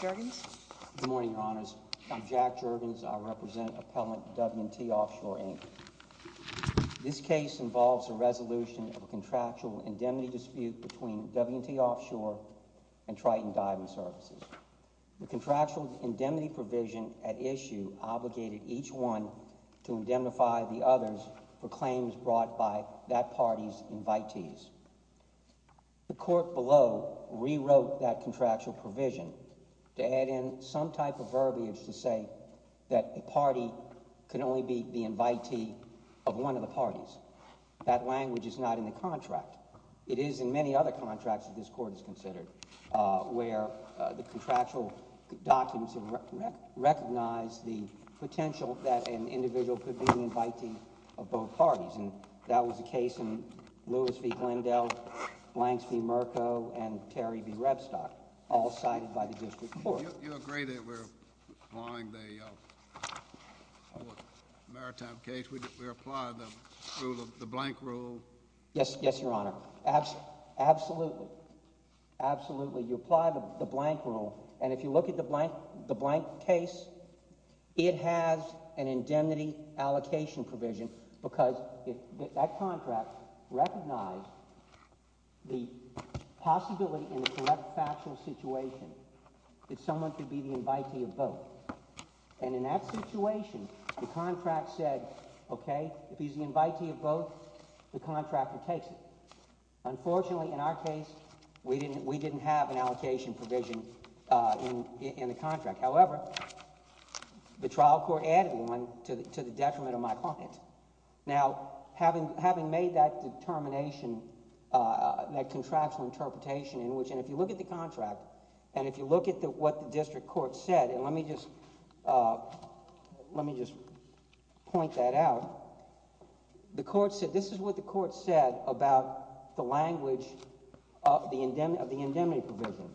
Good morning, Your Honors. I'm Jack Juergens. I represent Appellant W&T Offshore, Inc. This case involves a resolution of a contractual indemnity dispute between W&T Offshore and Triton Diving Services. The contractual indemnity provision at issue obligated each one to indemnify the others for claims brought by that party's invitees. The court below rewrote that contractual provision to add in some type of verbiage to say that the party can only be the invitee of one of the parties. That language is not in the contract. It is in many other contracts that this court has considered, where the contractual documents recognize the potential that an individual could be the invitee of both parties. And that was the case in Lewis v. Glendale, Blanks v. Mirko, and Terry v. Rebstock, all cited by the district court. You agree that we're applying the Maritime case? We're applying the blank rule? Yes, Your Honor. Absolutely. Absolutely. You apply the blank rule. And if you look at the indemnity allocation provision, because that contract recognized the possibility in the correct factual situation that someone could be the invitee of both. And in that situation, the contract said, okay, if he's the invitee of both, the contractor takes it. Unfortunately, in our case, we didn't have an allocation provision in the contract. However, the trial court added one to the detriment of my client. Now, having made that determination, that contractual interpretation in which, and if you look at the contract, and if you look at what the district court said, and let me just point that out, the court said, this is what the court said about the language of the indemnity provision.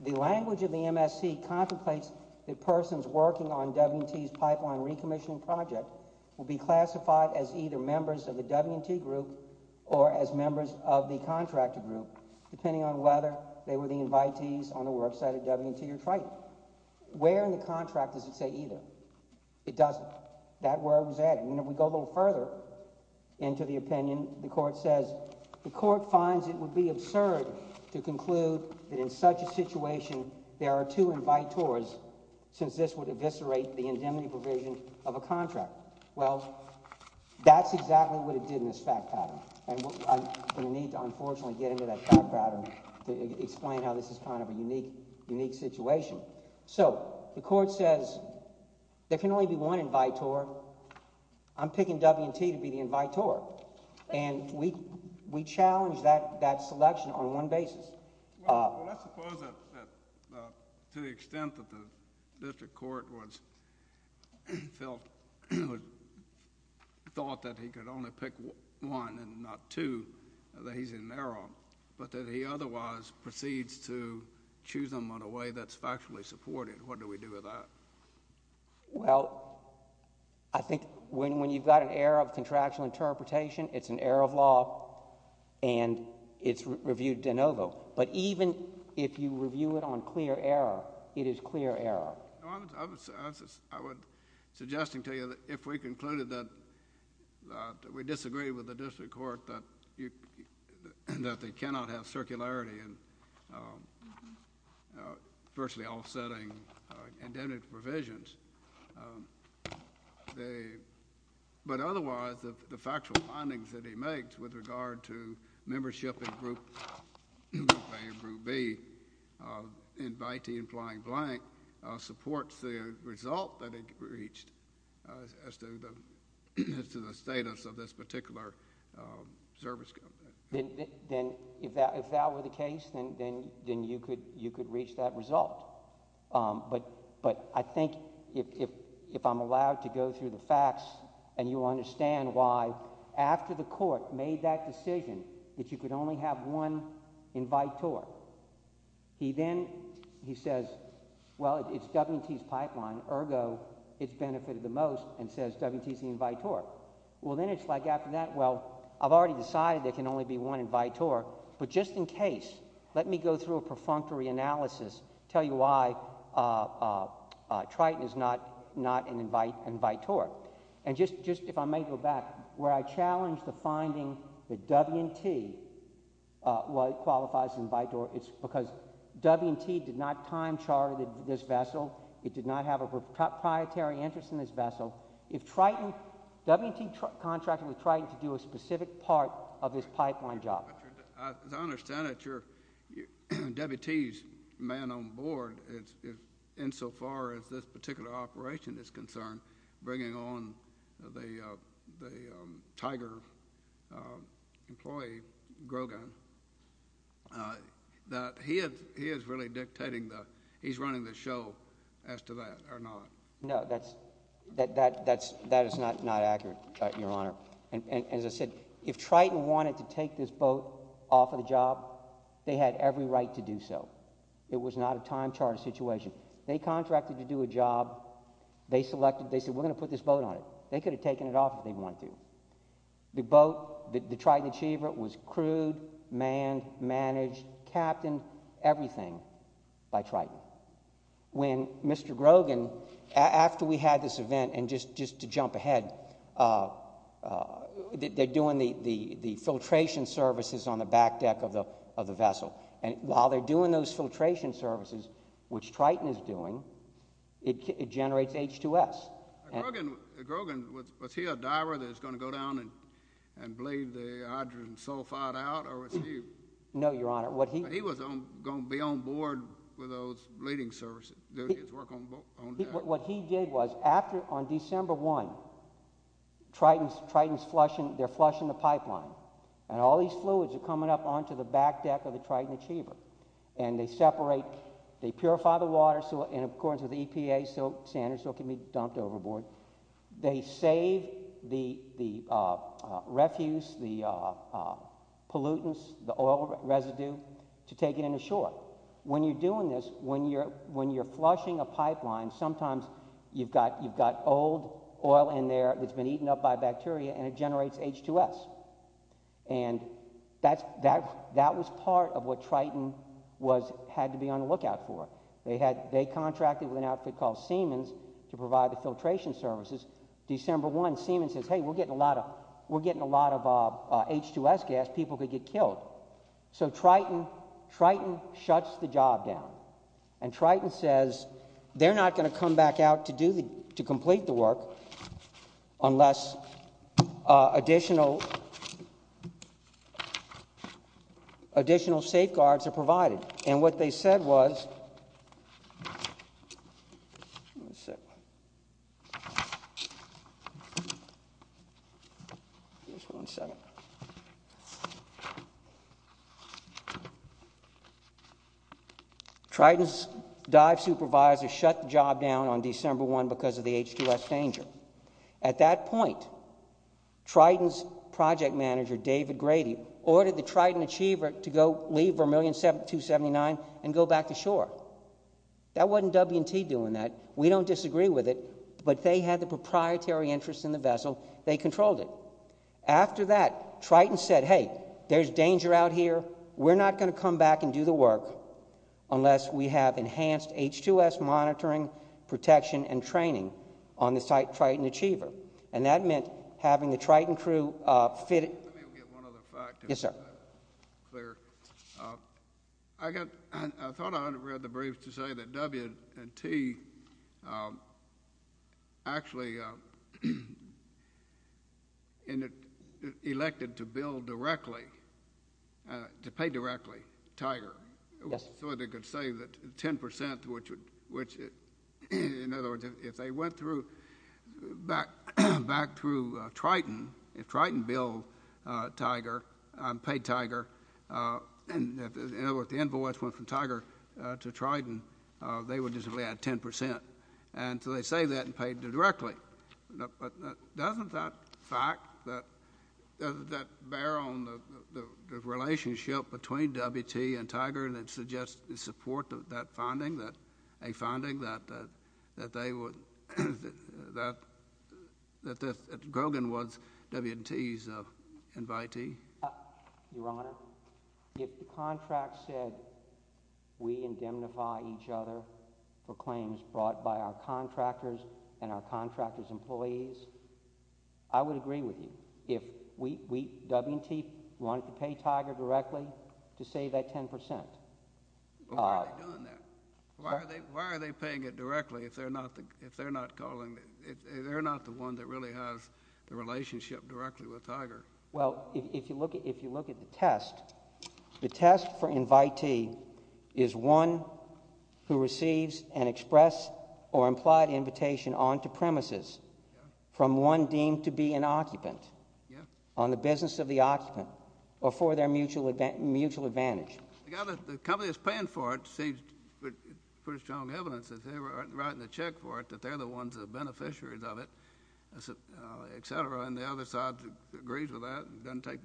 The language of the MSC contemplates the person's working on W&T's pipeline recommissioning project will be classified as either members of the W&T group or as members of the contractor group, depending on whether they were the invitees on the worksite at W&T or Triton. Where in the contract does it say either? It doesn't. That word was added. And if we go a little further into the opinion, the court says, the court finds it would be absurd to conclude that in such a situation, there are two invite tours, since this would eviscerate the indemnity provision of a contract. Well, that's exactly what it did in this fact pattern. And I'm going to need to, unfortunately, get into that fact pattern to explain how this is kind of a unique, unique situation. So, the court says, there can only be one invite tour. I'm picking W&T to be the invite tour. And we challenge that the court thought that he could only pick one and not two that he's in error, but that he otherwise proceeds to choose them on a way that's factually supported. What do we do with that? Well, I think when you've got an error of contractual interpretation, it's an error of law and it's reviewed de novo. But even if you review it on clear error, it is clear error. I was suggesting to you that if we concluded that we disagree with the district court that they cannot have circularity in virtually all setting indemnity provisions, but otherwise, the factual findings that he makes with regard to membership in Group A and Group B invitee and flying blank supports the result that it reached as to the status of this particular service company. Then, if that were the case, then you could reach that result. But I think if I'm allowed to go through the facts and you understand why, after the court made that invite tour, he then says, well, it's W&T's pipeline, ergo, it's benefited the most, and says W&T's the invite tour. Well, then it's like after that, well, I've already decided there can only be one invite tour. But just in case, let me go through a perfunctory analysis, tell you why Triton is not an invite tour. And just if I may go back, where I challenged the finding that W&T qualifies as an invite tour, it's because W&T did not time chart this vessel. It did not have a proprietary interest in this vessel. If Triton, W&T contracted with Triton to do a specific part of this pipeline job. As I understand it, W&T's man on board, insofar as this particular operation is concerned, bringing on the Tiger employee, Grogan, that he is really dictating the, he's running the show as to that, or not? No, that is not accurate, Your Honor. And as I said, if Triton wanted to take this boat off of the job, they had every right to do so. It was not a time charted situation. They contracted to do a job, they selected, they said, we're going to put this boat on it. They could have taken it off if they wanted to. The boat, the Triton Achiever, was crewed, manned, managed, captained, everything by Triton. When Mr. Grogan, after we had this event, and just to jump ahead, they're doing the filtration services on the back deck of the vessel. And while they're doing those filtration services, which Triton is doing, it generates H2S. Grogan, was he a diver that was going to go down and bleed the hydrogen sulfide out, or was he? No, Your Honor. But he was going to be on board with those bleeding services, doing his work on deck. What he did was, after, on December 1, Triton's flushing, they're flushing the pipeline, and all these fluids are coming up onto the back deck of the Triton Achiever. And they separate, they purify the water, so, and according to the EPA, so sand or silt can be dumped overboard. They save the refuse, the pollutants, the oil residue, to take it in ashore. When you're doing this, when you're, when you're flushing a pipeline, sometimes you've got, you've got old oil in there that's been eaten up by bacteria, and it generates H2S. And that's, that, that was part of what Triton was, had to be on the lookout for. They had, they contracted with an outfit called Siemens to provide the filtration services. December 1, Siemens says, hey, we're getting a lot of, we're getting a lot of H2S gas, people could get killed. So Triton, Triton shuts the job down. And Triton says, they're not going to come back out to do the, to complete the work unless additional, additional safeguards are provided. And what they said was, let me see, Triton's dive supervisor shut the job down on December 1 because of the H2S danger. At that point, Triton's project manager, David Grady, ordered the Triton Achiever to go leave 1,279,000 and go back to shore. That wasn't W&T doing that. We don't disagree with it, but they had the proprietary interest in the vessel. They controlled it. After that, Triton said, hey, there's danger out here. We're not going to come back and do the work unless we have enhanced H2S monitoring, protection, and training on the Triton Achiever. And that meant having the Triton crew fit. Yes, sir. I got, I thought I read the brief to say that W&T actually elected to bill directly, to pay directly, Tiger, so they could save that 10 percent, which would, which, in other words, if they went through, back, back through Triton, if Triton billed Tiger, paid Tiger, and, in other words, the invoice went from Tiger to Triton, they would just only add 10 percent. And so they saved that and paid directly. But doesn't that fact, that, doesn't that bear on the relationship between W&T and Tiger that suggests the support of that finding, that, a finding that, that, that they would, that, that Grogan was W&T's invitee? Your Honor, if the contract said we indemnify each other for claims brought by our contractors and our contractors' employees, I would agree with you. If we, we, W&T wanted to pay Tiger directly to save that 10 percent. But why are they doing that? Why are they, why are they paying it directly if they're not the, if they're not calling, if they're not the one that really has the relationship directly with Tiger? Well, if you look at, if you look at the test, the test for invitee is one who receives an express or implied invitation onto premises from one deemed to be an occupant on the business of the occupant or for their mutual, mutual advantage. The guy that, the company that's paying for it seems pretty strong evidence that they were writing the check for it, that they're the ones that are beneficiaries of it, et cetera. And the other side agrees with that and doesn't take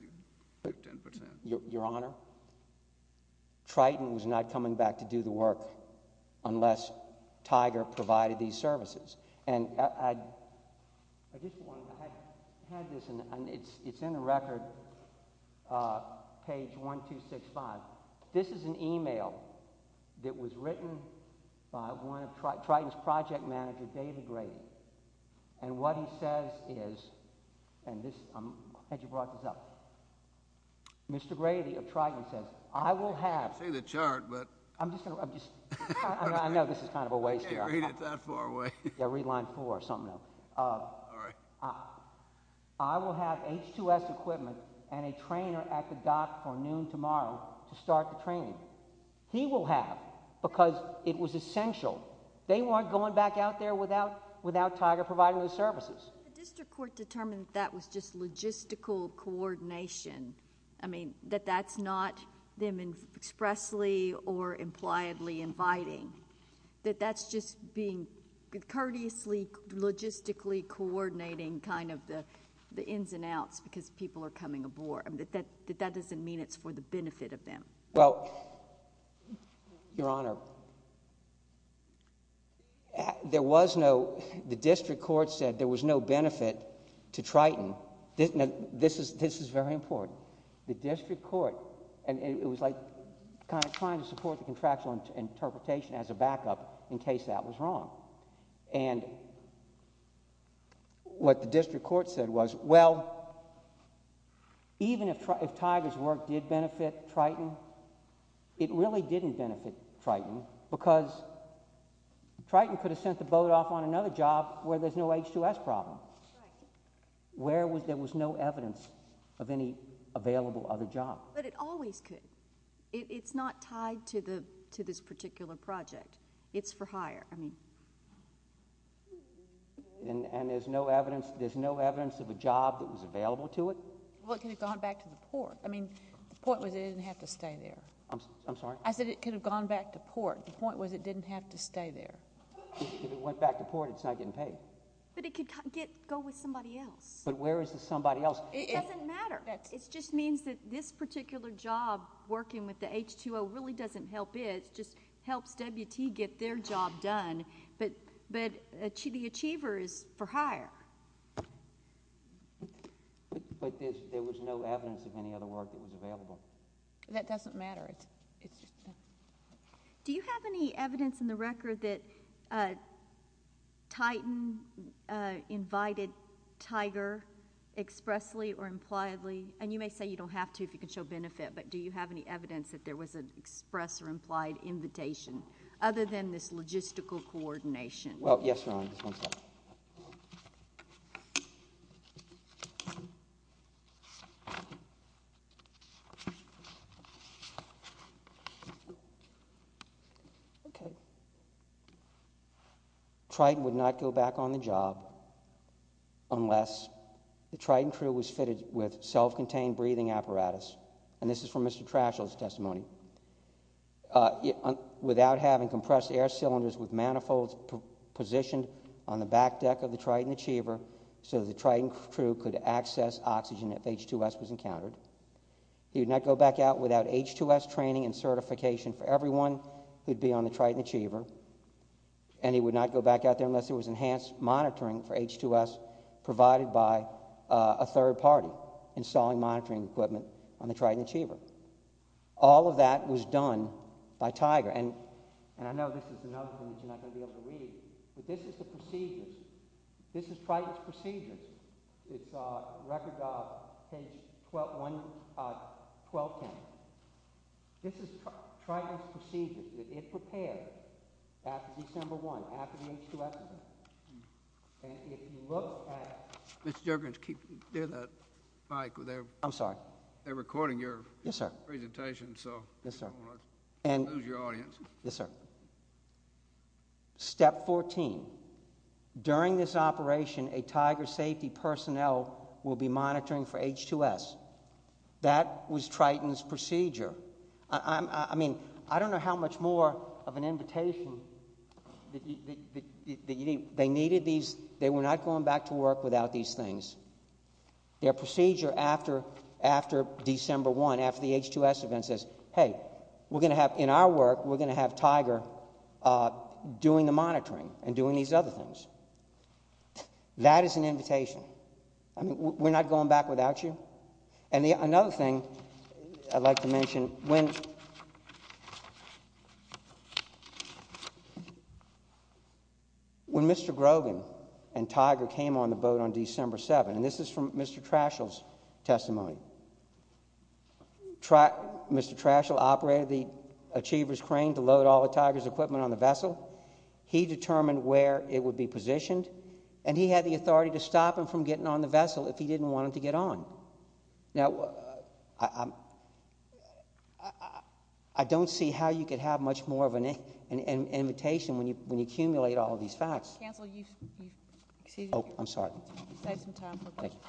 10 percent. Your Honor, Triton was not coming back to do the work unless Tiger provided these services. And I, I, I just want to, I had this, and it's, it's in the record, page 1265. This is an email that was written by one of, Triton's project manager, David Grady. And what he says is, and this, I'm glad you brought this up. Mr. Grady of Triton says, I will have... I see the chart, but... I'm just going to, I'm just... I know this is kind of a waste here. You can't read it that far away. Yeah, read line four or something else. All right. I will have H2S equipment and a trainer at the dock for noon tomorrow to start the training. He will have, because it was essential, they weren't going back out there without, without Tiger providing those services. The district court determined that was just logistical coordination. I mean, that that's not them expressly or impliedly inviting. That that's just being courteously, logistically coordinating kind of the, the ins and outs because people are coming aboard. I mean, that, that, that doesn't mean it's for the benefit of them. Well, Your Honor, there was no, the district court said there was no benefit to Triton. This is, this is very important. The district court, and it was like kind of trying to support the contractual interpretation as a backup in case that was wrong. And what the district court said was, well, even if, if Tiger's work did benefit Triton, it really didn't benefit Triton because Triton could have sent the boat off on another job where there's no H2S problem. Where was, there was no evidence of any available other job. But it always could. It's not tied to the, to this particular project. It's for hire, I mean. And there's no evidence, there's no evidence of a job that was available to it? Well, it could have gone back to the port. I mean, the point was it didn't have to stay there. I'm, I'm sorry? I said it could have gone back to port. The point was it didn't have to stay there. If it went back to port, it's not getting paid. But it could get, go with somebody else. But where is the somebody else? It doesn't matter. It just means that this particular job working with the H2O really doesn't help it. It just helps WT get their job done. But, but the Achiever is for hire. But there was no evidence of any other work that was available? That doesn't matter. It's, it's just that. Do you have any evidence in the record that Titan invited Tiger expressly or impliedly? And you may say you don't have to if you can show benefit. But do you have any evidence that there was an express or implied invitation other than this logistical coordination? Well, yes, Your Honor. Just one second. Okay. Triton would not go back on the job unless the Triton crew was fitted with self-contained breathing apparatus. And this is from Mr. Trashel's testimony. Without having compressed air cylinders with manifolds positioned on the back deck of the Triton Achiever, so the Triton crew could access oxygen if H2S was encountered. He would not go back out without H2S training and certification for everyone who'd be on the Triton Achiever. And he would not go back out there unless there was enhanced monitoring for H2S provided by a third party installing monitoring equipment on the Triton Achiever. All of that was done by Tiger. And, and I know this is another thing that you're not going to be able to read, but this is the procedures. This is Triton's procedures. It's a record of page 1210. This is Triton's procedures that it prepared after December 1, after the H2S event. And if you look at— Mr. Juergens, keep near that mic. I'm sorry. They're recording your presentation, so yes, sir. And, yes, sir. Step 14. During this operation, a Tiger safety personnel will be monitoring for H2S. That was Triton's procedure. I mean, I don't know how much more of an invitation that you need. They needed these. They were not going back to work without these things. Their procedure after, after December 1, after the H2S event says, hey, we're going to have, in our work, we're going to have Tiger doing the monitoring and doing these other things. That is an invitation. I mean, we're not going back without you. And another thing I'd like to mention, when Mr. Grogan and Tiger came on the boat on December 7—and this is from Mr. Trashel's testimony—Mr. Trashel operated the Achiever's crane to load all the Tiger's equipment on the vessel. He determined where it would be positioned, and he had the authority to stop him from getting on the vessel if he didn't want him to get on. Now, I don't see how you could have much more of an invitation when you accumulate all of these facts. Counsel, you've exceeded your time. Oh, I'm sorry. You've saved some time for questions.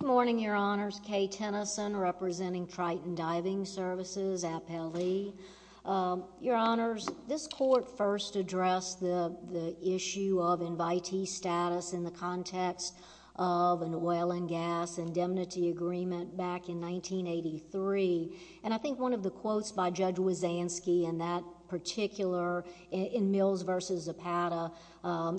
Good morning, Your Honors. Kay Tennyson, representing Triton Diving Services, Appellee. Your Honors, this Court first addressed the issue of invitee status in the context of an oil and gas indemnity agreement back in 1983. I think one of the quotes by Judge Wazansky in that particular... in Mills v. Zapata,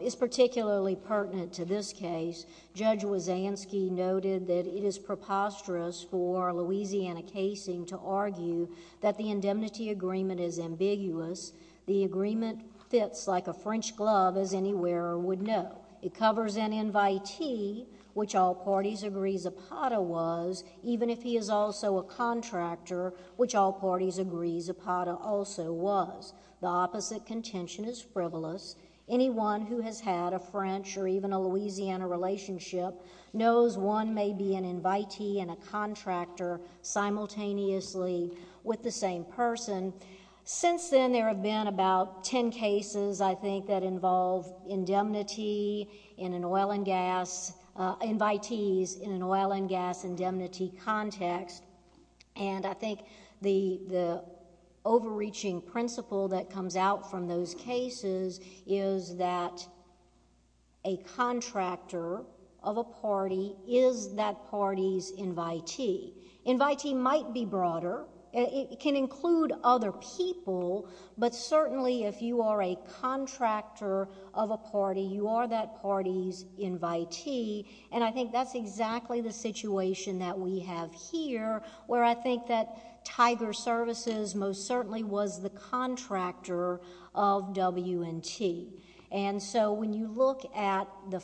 is particularly pertinent to this case. Judge Wazansky noted that it is preposterous for Louisiana casing to argue that the indemnity agreement is ambiguous. The agreement fits like a French glove, as any wearer would know. It covers an invitee, which all parties agree Zapata was, even if he is also a contractor, which all parties agree Zapata also was. The opposite contention is frivolous. Anyone who has had a French or even a Louisiana relationship knows one may be an invitee and a contractor simultaneously with the same person. Since then, there have been about 10 cases, I think, that involve invitees in an oil and gas indemnity context. I think the overreaching principle that comes out from those cases is that a contractor of a party is that party's invitee. Invitee might be broader. It can include other people, but certainly if you are a contractor of a party, you are that party's invitee. I think that's exactly the situation that we have here, where I think that Tiger Services most certainly was the contractor of W&T. When you look at the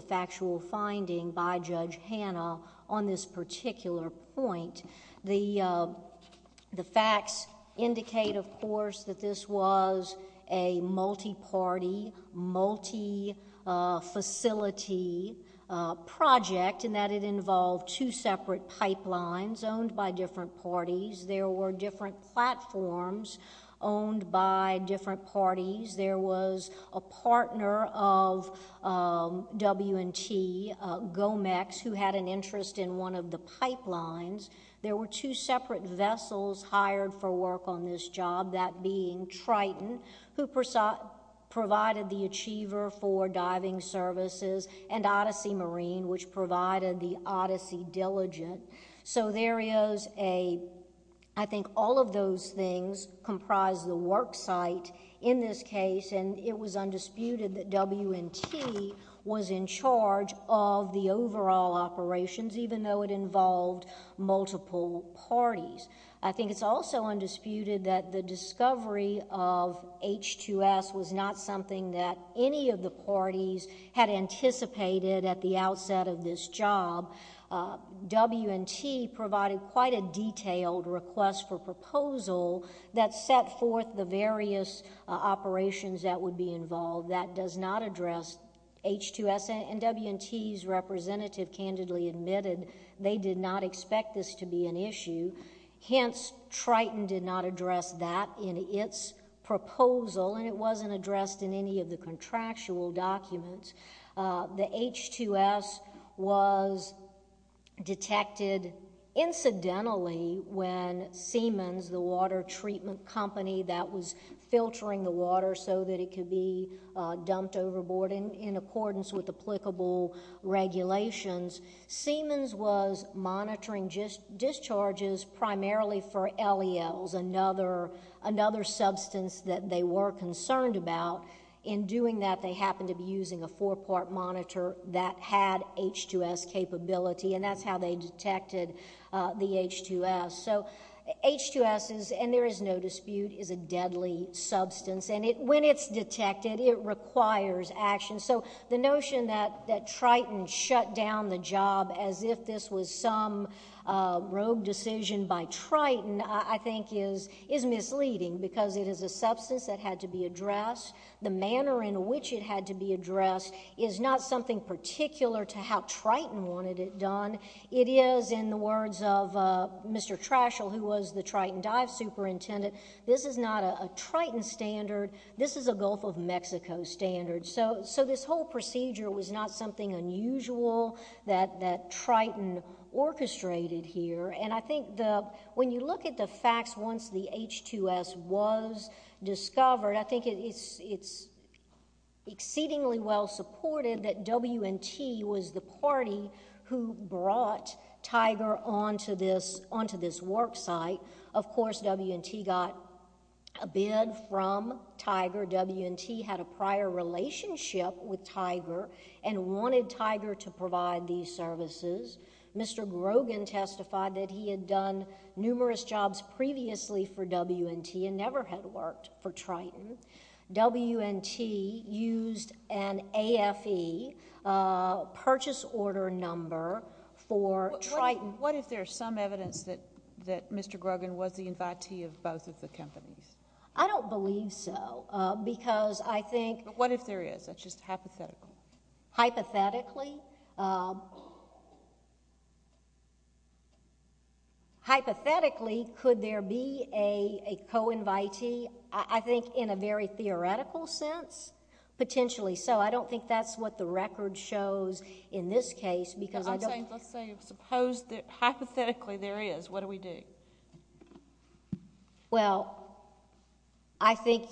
factual finding by Judge Hanna on this particular point, the facts indicate, of course, that this was a multiparty, multifacility project in that it involved two separate pipelines owned by different parties. There were different platforms owned by different parties. There was a partner of W&T, Gomex, who had an interest in one of the pipelines. There were two separate vessels hired for work on this job, that being Triton, who provided the Achiever for diving services, and Odyssey Marine, which provided the Odyssey Diligent. There is a... I think all of those things comprise the worksite in this case, and it was undisputed that W&T was in charge of the overall operations, even though it involved multiple parties. I think it's also undisputed that the discovery of H2S was not something that any of the parties had anticipated at the outset of this job. W&T provided quite a detailed request for proposal that set forth the various operations that would be involved. That does not address H2S, and W&T's representative candidly admitted they did not expect this to be an issue. Hence, Triton did not address that in its proposal, and it wasn't addressed in any of the contractual documents. The H2S was detected incidentally when Siemens, the water treatment company that was filtering the water so that it could be dumped overboard in accordance with applicable regulations, Siemens was monitoring discharges primarily for LELs, another substance that they were concerned about. In doing that, they happened to be using a four-part monitor that had H2S capability, and that's how they detected the H2S. So H2S, and there is no dispute, is a deadly substance, and when it's detected, it requires action. So the notion that Triton shut down the job as if this was some rogue decision by Triton I think is misleading because it is a substance that had to be addressed. The manner in which it had to be addressed is not something particular to how Triton wanted it done. It is, in the words of Mr. Trashel, who was the Triton dive superintendent, this is not a Triton standard. This is a Gulf of Mexico standard. So this whole procedure was not something unusual that Triton orchestrated here, and I think when you look at the facts once the H2S was discovered, I think it's exceedingly well supported that W&T was the party who brought Tiger onto this work site. Of course, W&T got a bid from Tiger. W&T had a prior relationship with Tiger and wanted Tiger to provide these services. Mr. Grogan testified that he had done numerous jobs previously for W&T and never had worked for Triton. W&T used an AFE purchase order number for Triton. What if there's some evidence that Mr. Grogan was the invitee of both of the companies? I don't believe so because I think... But what if there is? That's just hypothetical. Hypothetically. Hypothetically, could there be a co-invitee? I think in a very theoretical sense, potentially so. I don't think that's what the record shows in this case because... Let's say, hypothetically, there is. What do we do? Well, I think...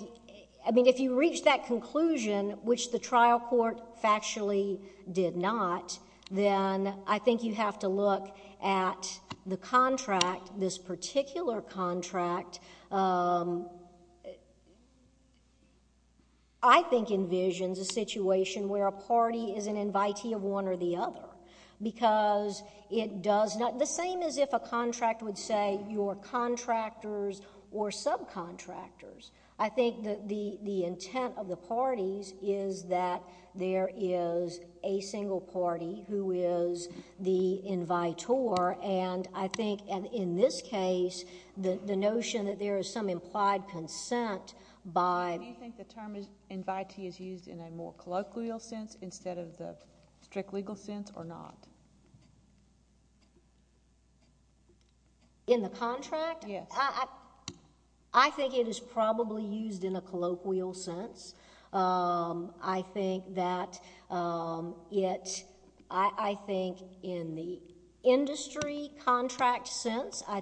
I mean, if you reach that conclusion, which the trial court factually did not, then I think you have to look at the contract, this particular contract, that I think envisions a situation where a party is an invitee of one or the other because it does not... The same as if a contract would say you're contractors or subcontractors. I think that the intent of the parties is that there is a single party who is the implied consent by... Do you think the term invitee is used in a more colloquial sense instead of the strict legal sense or not? In the contract? Yes. I think it is probably used in a colloquial sense. I think that it... I think in the contract, there are a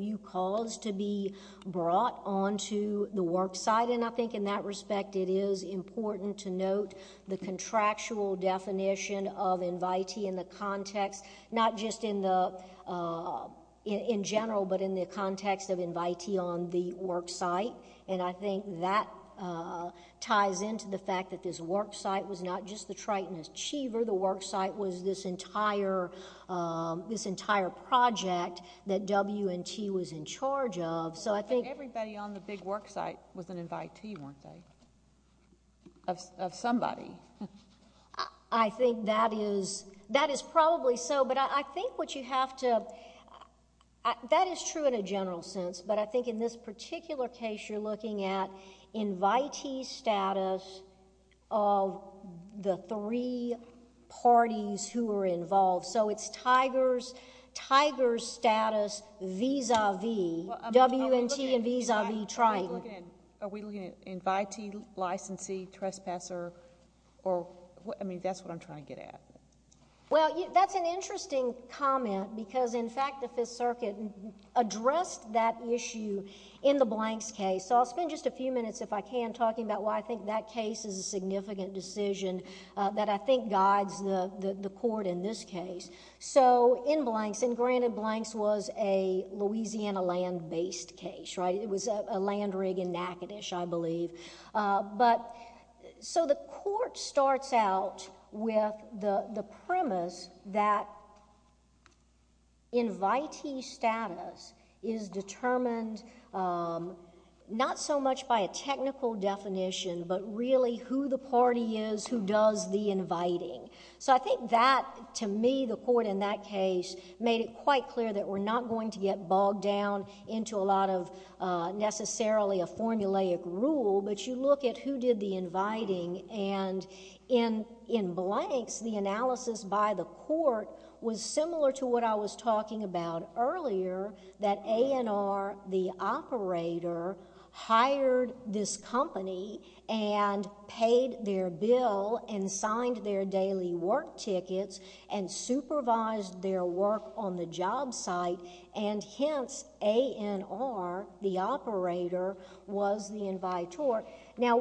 few calls to be brought onto the worksite, and I think in that respect, it is important to note the contractual definition of invitee in the context, not just in general, but in the context of invitee on the worksite. I think that ties into the fact that this worksite was not just the Triton Achiever. The worksite was this entire project that W&T was in charge of, so I think... Everybody on the big worksite was an invitee, weren't they, of somebody? I think that is probably so, but I think what you have to... That is true in a general sense, but I think in this particular case, you're looking at invitee status of the three parties who were involved, so it's Tiger's status vis-a-vis W&T and vis-a-vis Triton. Are we looking at invitee, licensee, trespasser? I mean, that's what I'm trying to get at. Well, that's an interesting comment because, in fact, the Fifth Circuit addressed that issue in the Blanks case, so I'll spend just a few minutes, if I can, talking about why I think that case is a significant decision that I think guides the court in this case. In Blanks, and granted Blanks was a Louisiana land-based case, right? It was a land rig in Natchitoches, I believe. The court starts out with the premise that invitee status is determined not so much by a technical definition, but really who the party is who does the inviting. I think that, to me, the court in that case made it quite clear that we're not going to get bogged down into a lot of necessarily a formulaic rule, but you look at who did the inviting, and in Blanks, the analysis by the court was similar to what I was talking about earlier, that A&R, the operator, hired this company and paid their bill and signed their daily work tickets and supervised their work on the job site, and, hence, A&R, the operator, was the invitor. Now,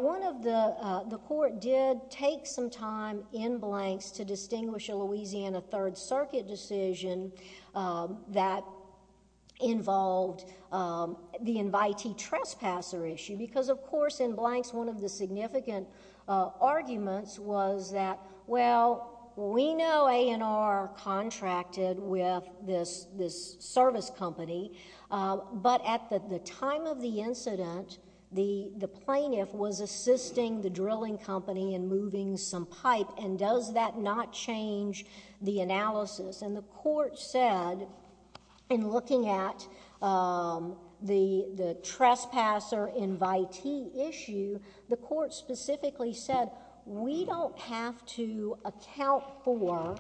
the court did take some time in Blanks to distinguish a Louisiana third circuit decision that involved the invitee trespasser issue because, of course, in Blanks, one of the significant arguments was that, well, we know A&R contracted with this service company, but at the time of the incident, the plaintiff was assisting the analysis, and the court said, in looking at the trespasser invitee issue, the court specifically said, we don't have to account for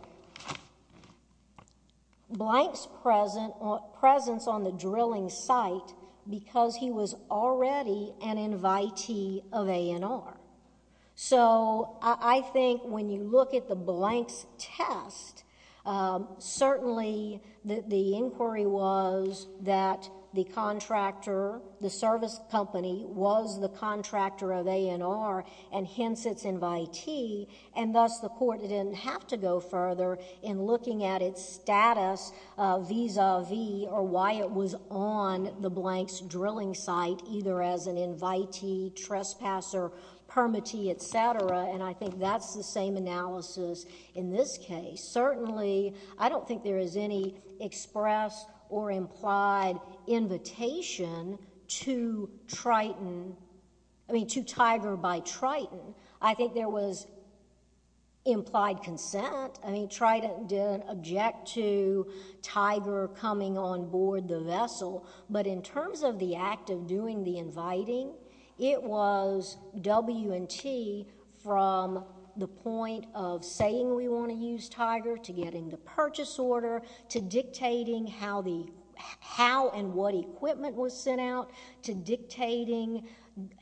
Blanks' presence on the drilling site because he was already an invitee of A&R. So I think when you look at the Blanks test, certainly the inquiry was that the contractor, the service company, was the contractor of A&R, and, hence, its invitee, and, thus, the court didn't have to go further in looking at its presence on the Blanks drilling site, either as an invitee, trespasser, permittee, et cetera, and I think that's the same analysis in this case. Certainly, I don't think there is any express or implied invitation to Triton... I mean, to Tiger by Triton. I think there was but in terms of the act of doing the inviting, it was W&T from the point of saying we want to use Tiger to getting the purchase order to dictating how and what equipment was sent out to dictating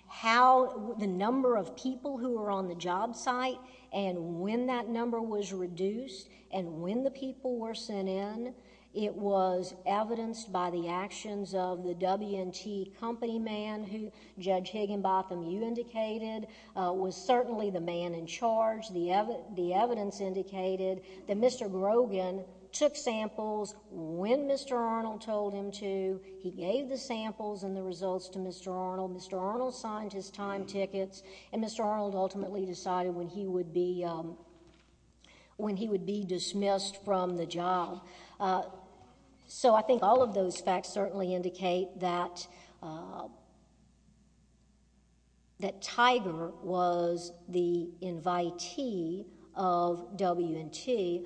how the number of people who were on the job site and when that number was reduced and when the people were sent in. It was evidenced by the actions of the W&T company man who, Judge Higginbotham, you indicated, was certainly the man in charge. The evidence indicated that Mr. Grogan took samples when Mr. Arnold told him to. He gave the samples and the results to Mr. Arnold. Mr. Arnold signed his time tickets, and Mr. Arnold ultimately decided when he would be dismissed from the job. So I think all of those facts certainly indicate that Tiger was the invitee of W&T.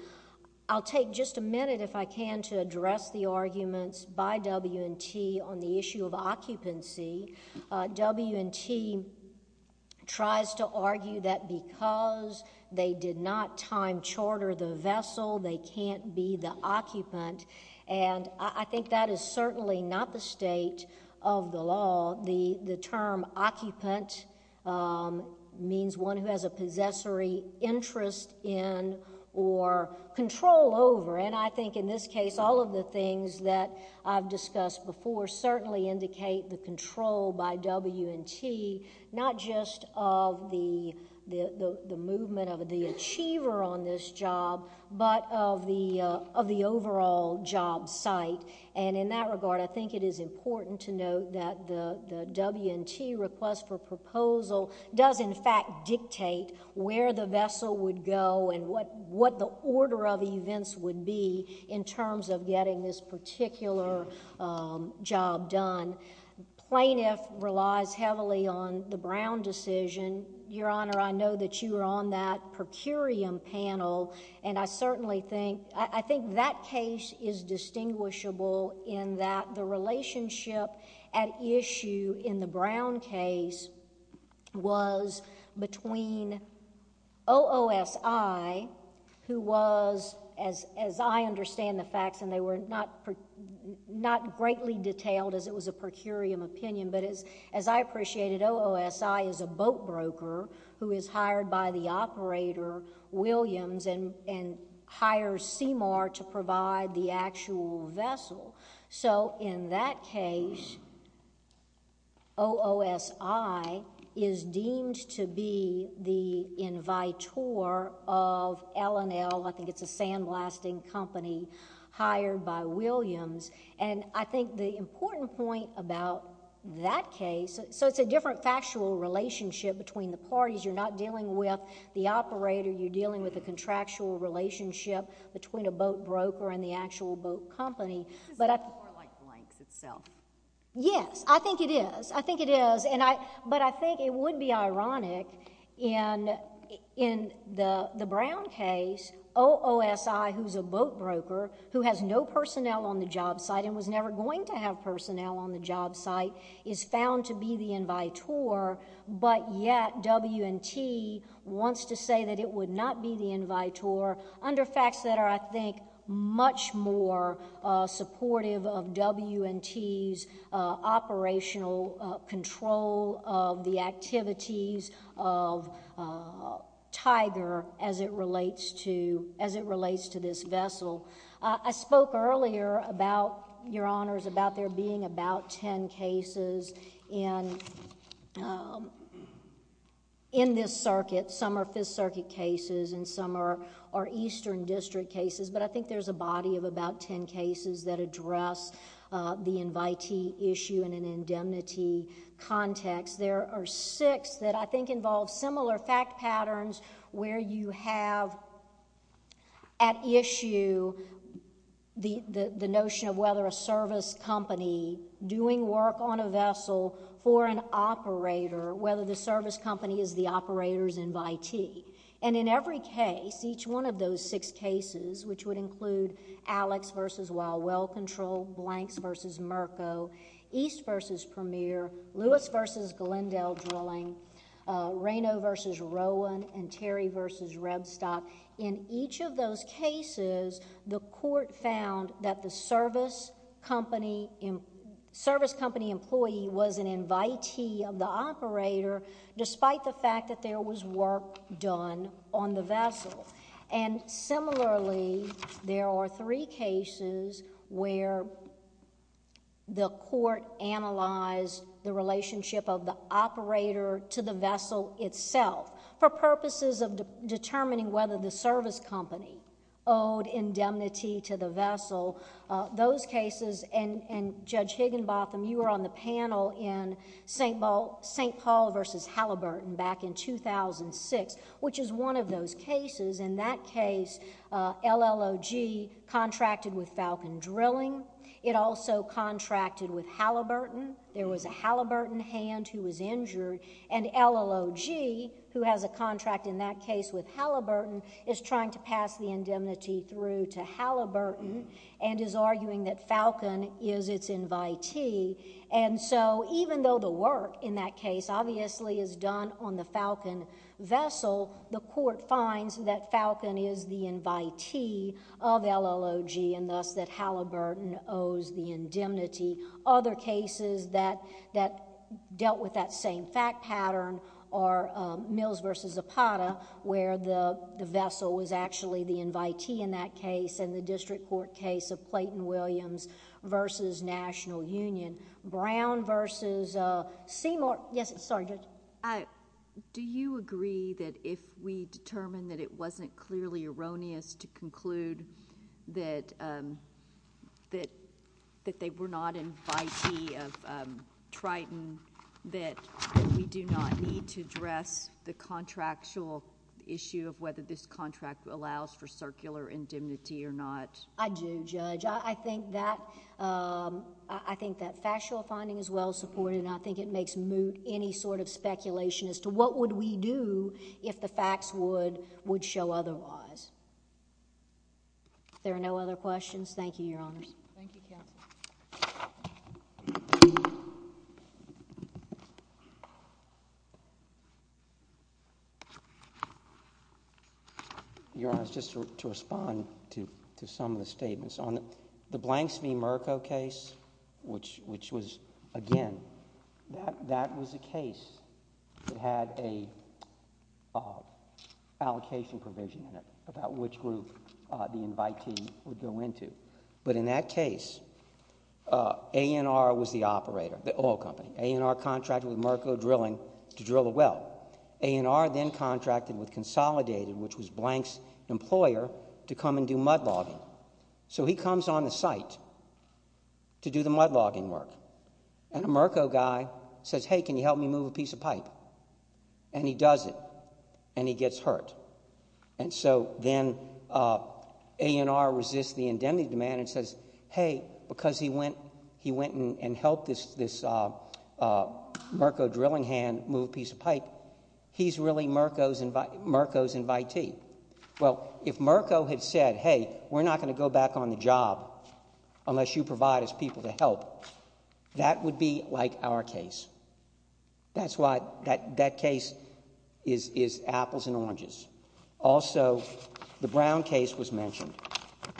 I'll take just a minute, if I can, to address the arguments by W&T on the issue of occupancy. W&T tries to argue that because they did not time charter the vessel, they can't be the occupant, and I think that is certainly not the state of the law. The term occupant means one who has a possessory interest in or control over, and I think in this case, all of the things that I've discussed before certainly indicate the control by W&T, not just of the movement of the achiever on this job, but of the overall job site. And in that regard, I think it is important to note that the W&T request for proposal does in fact dictate where the vessel would go and what the order of events would be in terms of getting this particular job done. Plaintiff relies heavily on the Brown decision. Your Honor, I know that you were on that per curiam panel, and I certainly think... I think that case is distinguishable in that the relationship at issue in the Brown case was between OOSI, who was, as I understand the facts, and they were not greatly detailed as it was a per curiam opinion, but as I appreciated, OOSI is a boat broker who is hired by the operator, Williams, and hires CMR to provide the actual vessel. So in that case, OOSI is deemed to be the invitor of L&L. I think it's a sandblasting company hired by Williams, and I think the important point about that case... so it's a different factual relationship between the parties. You're not dealing with the operator. You're dealing with the actual boat company. This is more like blanks itself. Yes, I think it is. I think it is, and I... but I think it would be ironic in the Brown case, OOSI, who's a boat broker, who has no personnel on the job site and was never going to have personnel on the job site, is found to be the invitor, but yet W&T wants to say that it would not be the invitor under facts that are, I think, much more supportive of W&T's operational control of the activities of Tiger as it relates to... as it relates to this vessel. I spoke earlier about, Your Honors, about there being about ten cases in this circuit. Some are Fifth Circuit cases and some are Eastern District cases, but I think there's a body of about ten cases that address the invitee issue in an indemnity context. There are six that I think involve similar fact patterns where you have at issue the notion of a service company doing work on a vessel for an operator, whether the service company is the operator's invitee. In every case, each one of those six cases, which would include Alex v. Wildwell Control, Blanks v. Merco, East v. Premier, Lewis v. Glendale Drilling, Reno v. Rowan, and Terry v. Redstock, in each of those cases, the court found that the service company employee was an invitee of the operator, despite the fact that there was work done on the vessel. Similarly, there are three cases where the court analyzed the relationship of the operator to the vessel itself for purposes of determining whether the service company owed indemnity to the vessel. Those cases, and Judge Higginbotham, you were on the panel in St. Paul v. Halliburton back in 2006, which is one of those cases. In that case, LLOG contracted with Falcon Drilling. It also contracted with Halliburton. There was a Halliburton hand who was injured, and LLOG, who has a contract in that case with Halliburton, is trying to pass the indemnity through to Halliburton and is arguing that Falcon is its invitee. Even though the work in that case obviously is done on the Falcon vessel, the court finds that Falcon is the invitee of LLOG, and thus that Halliburton owes the indemnity. Other cases that dealt with that same fact pattern are Mills v. Zapata, where the vessel was actually the invitee in that case, and the district court case of Clayton Williams v. National Union. Brown v. Seymour... Yes, sorry, Judge. Do you agree that if we determine that it wasn't clearly erroneous to conclude that they were not invitee of Triton, that we do not need to address the contractual issue of whether this contract allows for circular indemnity or not? I do, Judge. I think that factual finding is well supported, and I think it makes moot any sort of speculation as to what would we do if the facts would show otherwise. If there are no other questions, thank you, Your Honors. Thank you, Counsel. Your Honors, just to respond to some of the statements, on the Blanks v. Murco case, which was, again, that was a case that had an allocation provision in it about which group the invitee would go into. But in that case, A&R was the operator, the oil company. A&R contracted with Murco Drilling to drill a well. A&R then contracted with Consolidated, which was to do the mud-logging work. And a Murco guy says, hey, can you help me move a piece of pipe? And he does it, and he gets hurt. And so then A&R resists the indemnity demand and says, hey, because he went and helped this Murco drilling hand move a piece of pipe, he's really Murco's invitee. Well, if Murco had said, hey, we're not going to go back on the job unless you provide us people to help, that would be like our case. That's why that case is apples and oranges. Also, the Brown case was mentioned.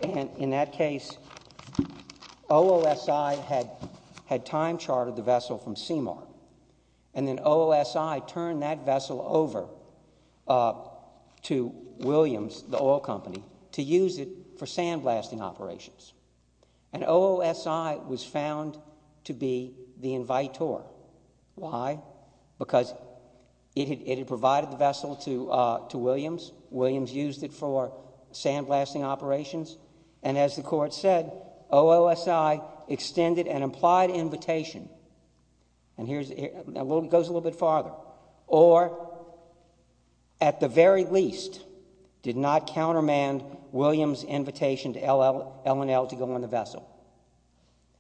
And in that case, OOSI had time-chartered the vessel from CMR. And then OOSI turned that vessel over to Williams, the oil company, to use it for sandblasting operations. And OOSI was found to be the invitor. Why? Because it had provided the vessel to Williams. Williams used it for sandblasting operations. And as the Court said, OOSI extended an implied invitation. And here it goes a little bit farther. Or, at the very least, did not countermand Williams' invitation to L&L to go on the vessel.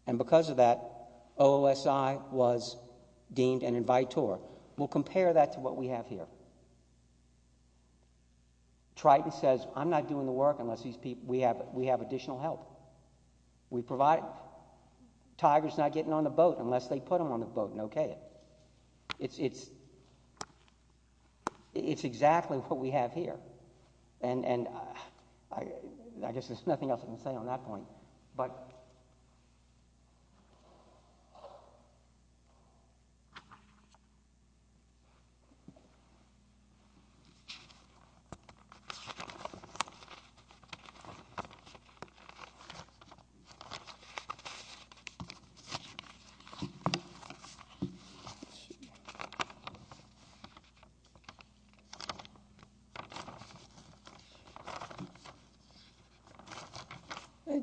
And because of that, OOSI was deemed an invitor. We'll compare that to what we have here. Triton says, I'm not doing the work unless we have additional help. We provide it. Tiger's not getting on the boat unless they put him on the boat and okay it. It's exactly what we have here. And I guess there's nothing else I can say on that point. Okay.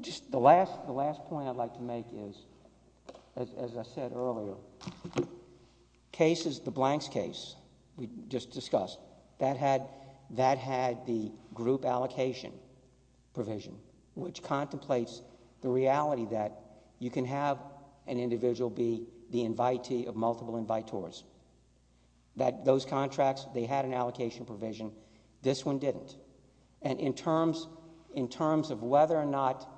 Just the last point I'd like to make is, as I said earlier, cases, the Blanks case we just discussed, that had the group allocation provision, which contemplates the reality that you can have an individual be the invitee of multiple invitors. That those contracts, they had an allocation provision. This one didn't. And in terms of whether or not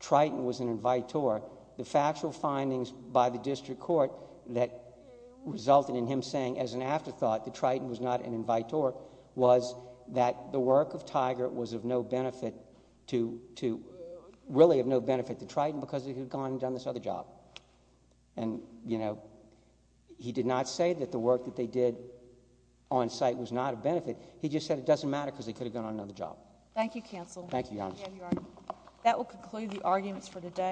Triton was an invitor, the factual findings by the District Court that resulted in him saying as an afterthought that Triton was not an invitor, was that the work of Tiger was of no benefit to Triton because he had gone and done this other job. And, you know, he did not say that the work that they did on site was not a benefit. He just said it doesn't matter because they could have gone on another job. Thank you, counsel. Thank you. That will conclude the arguments for today.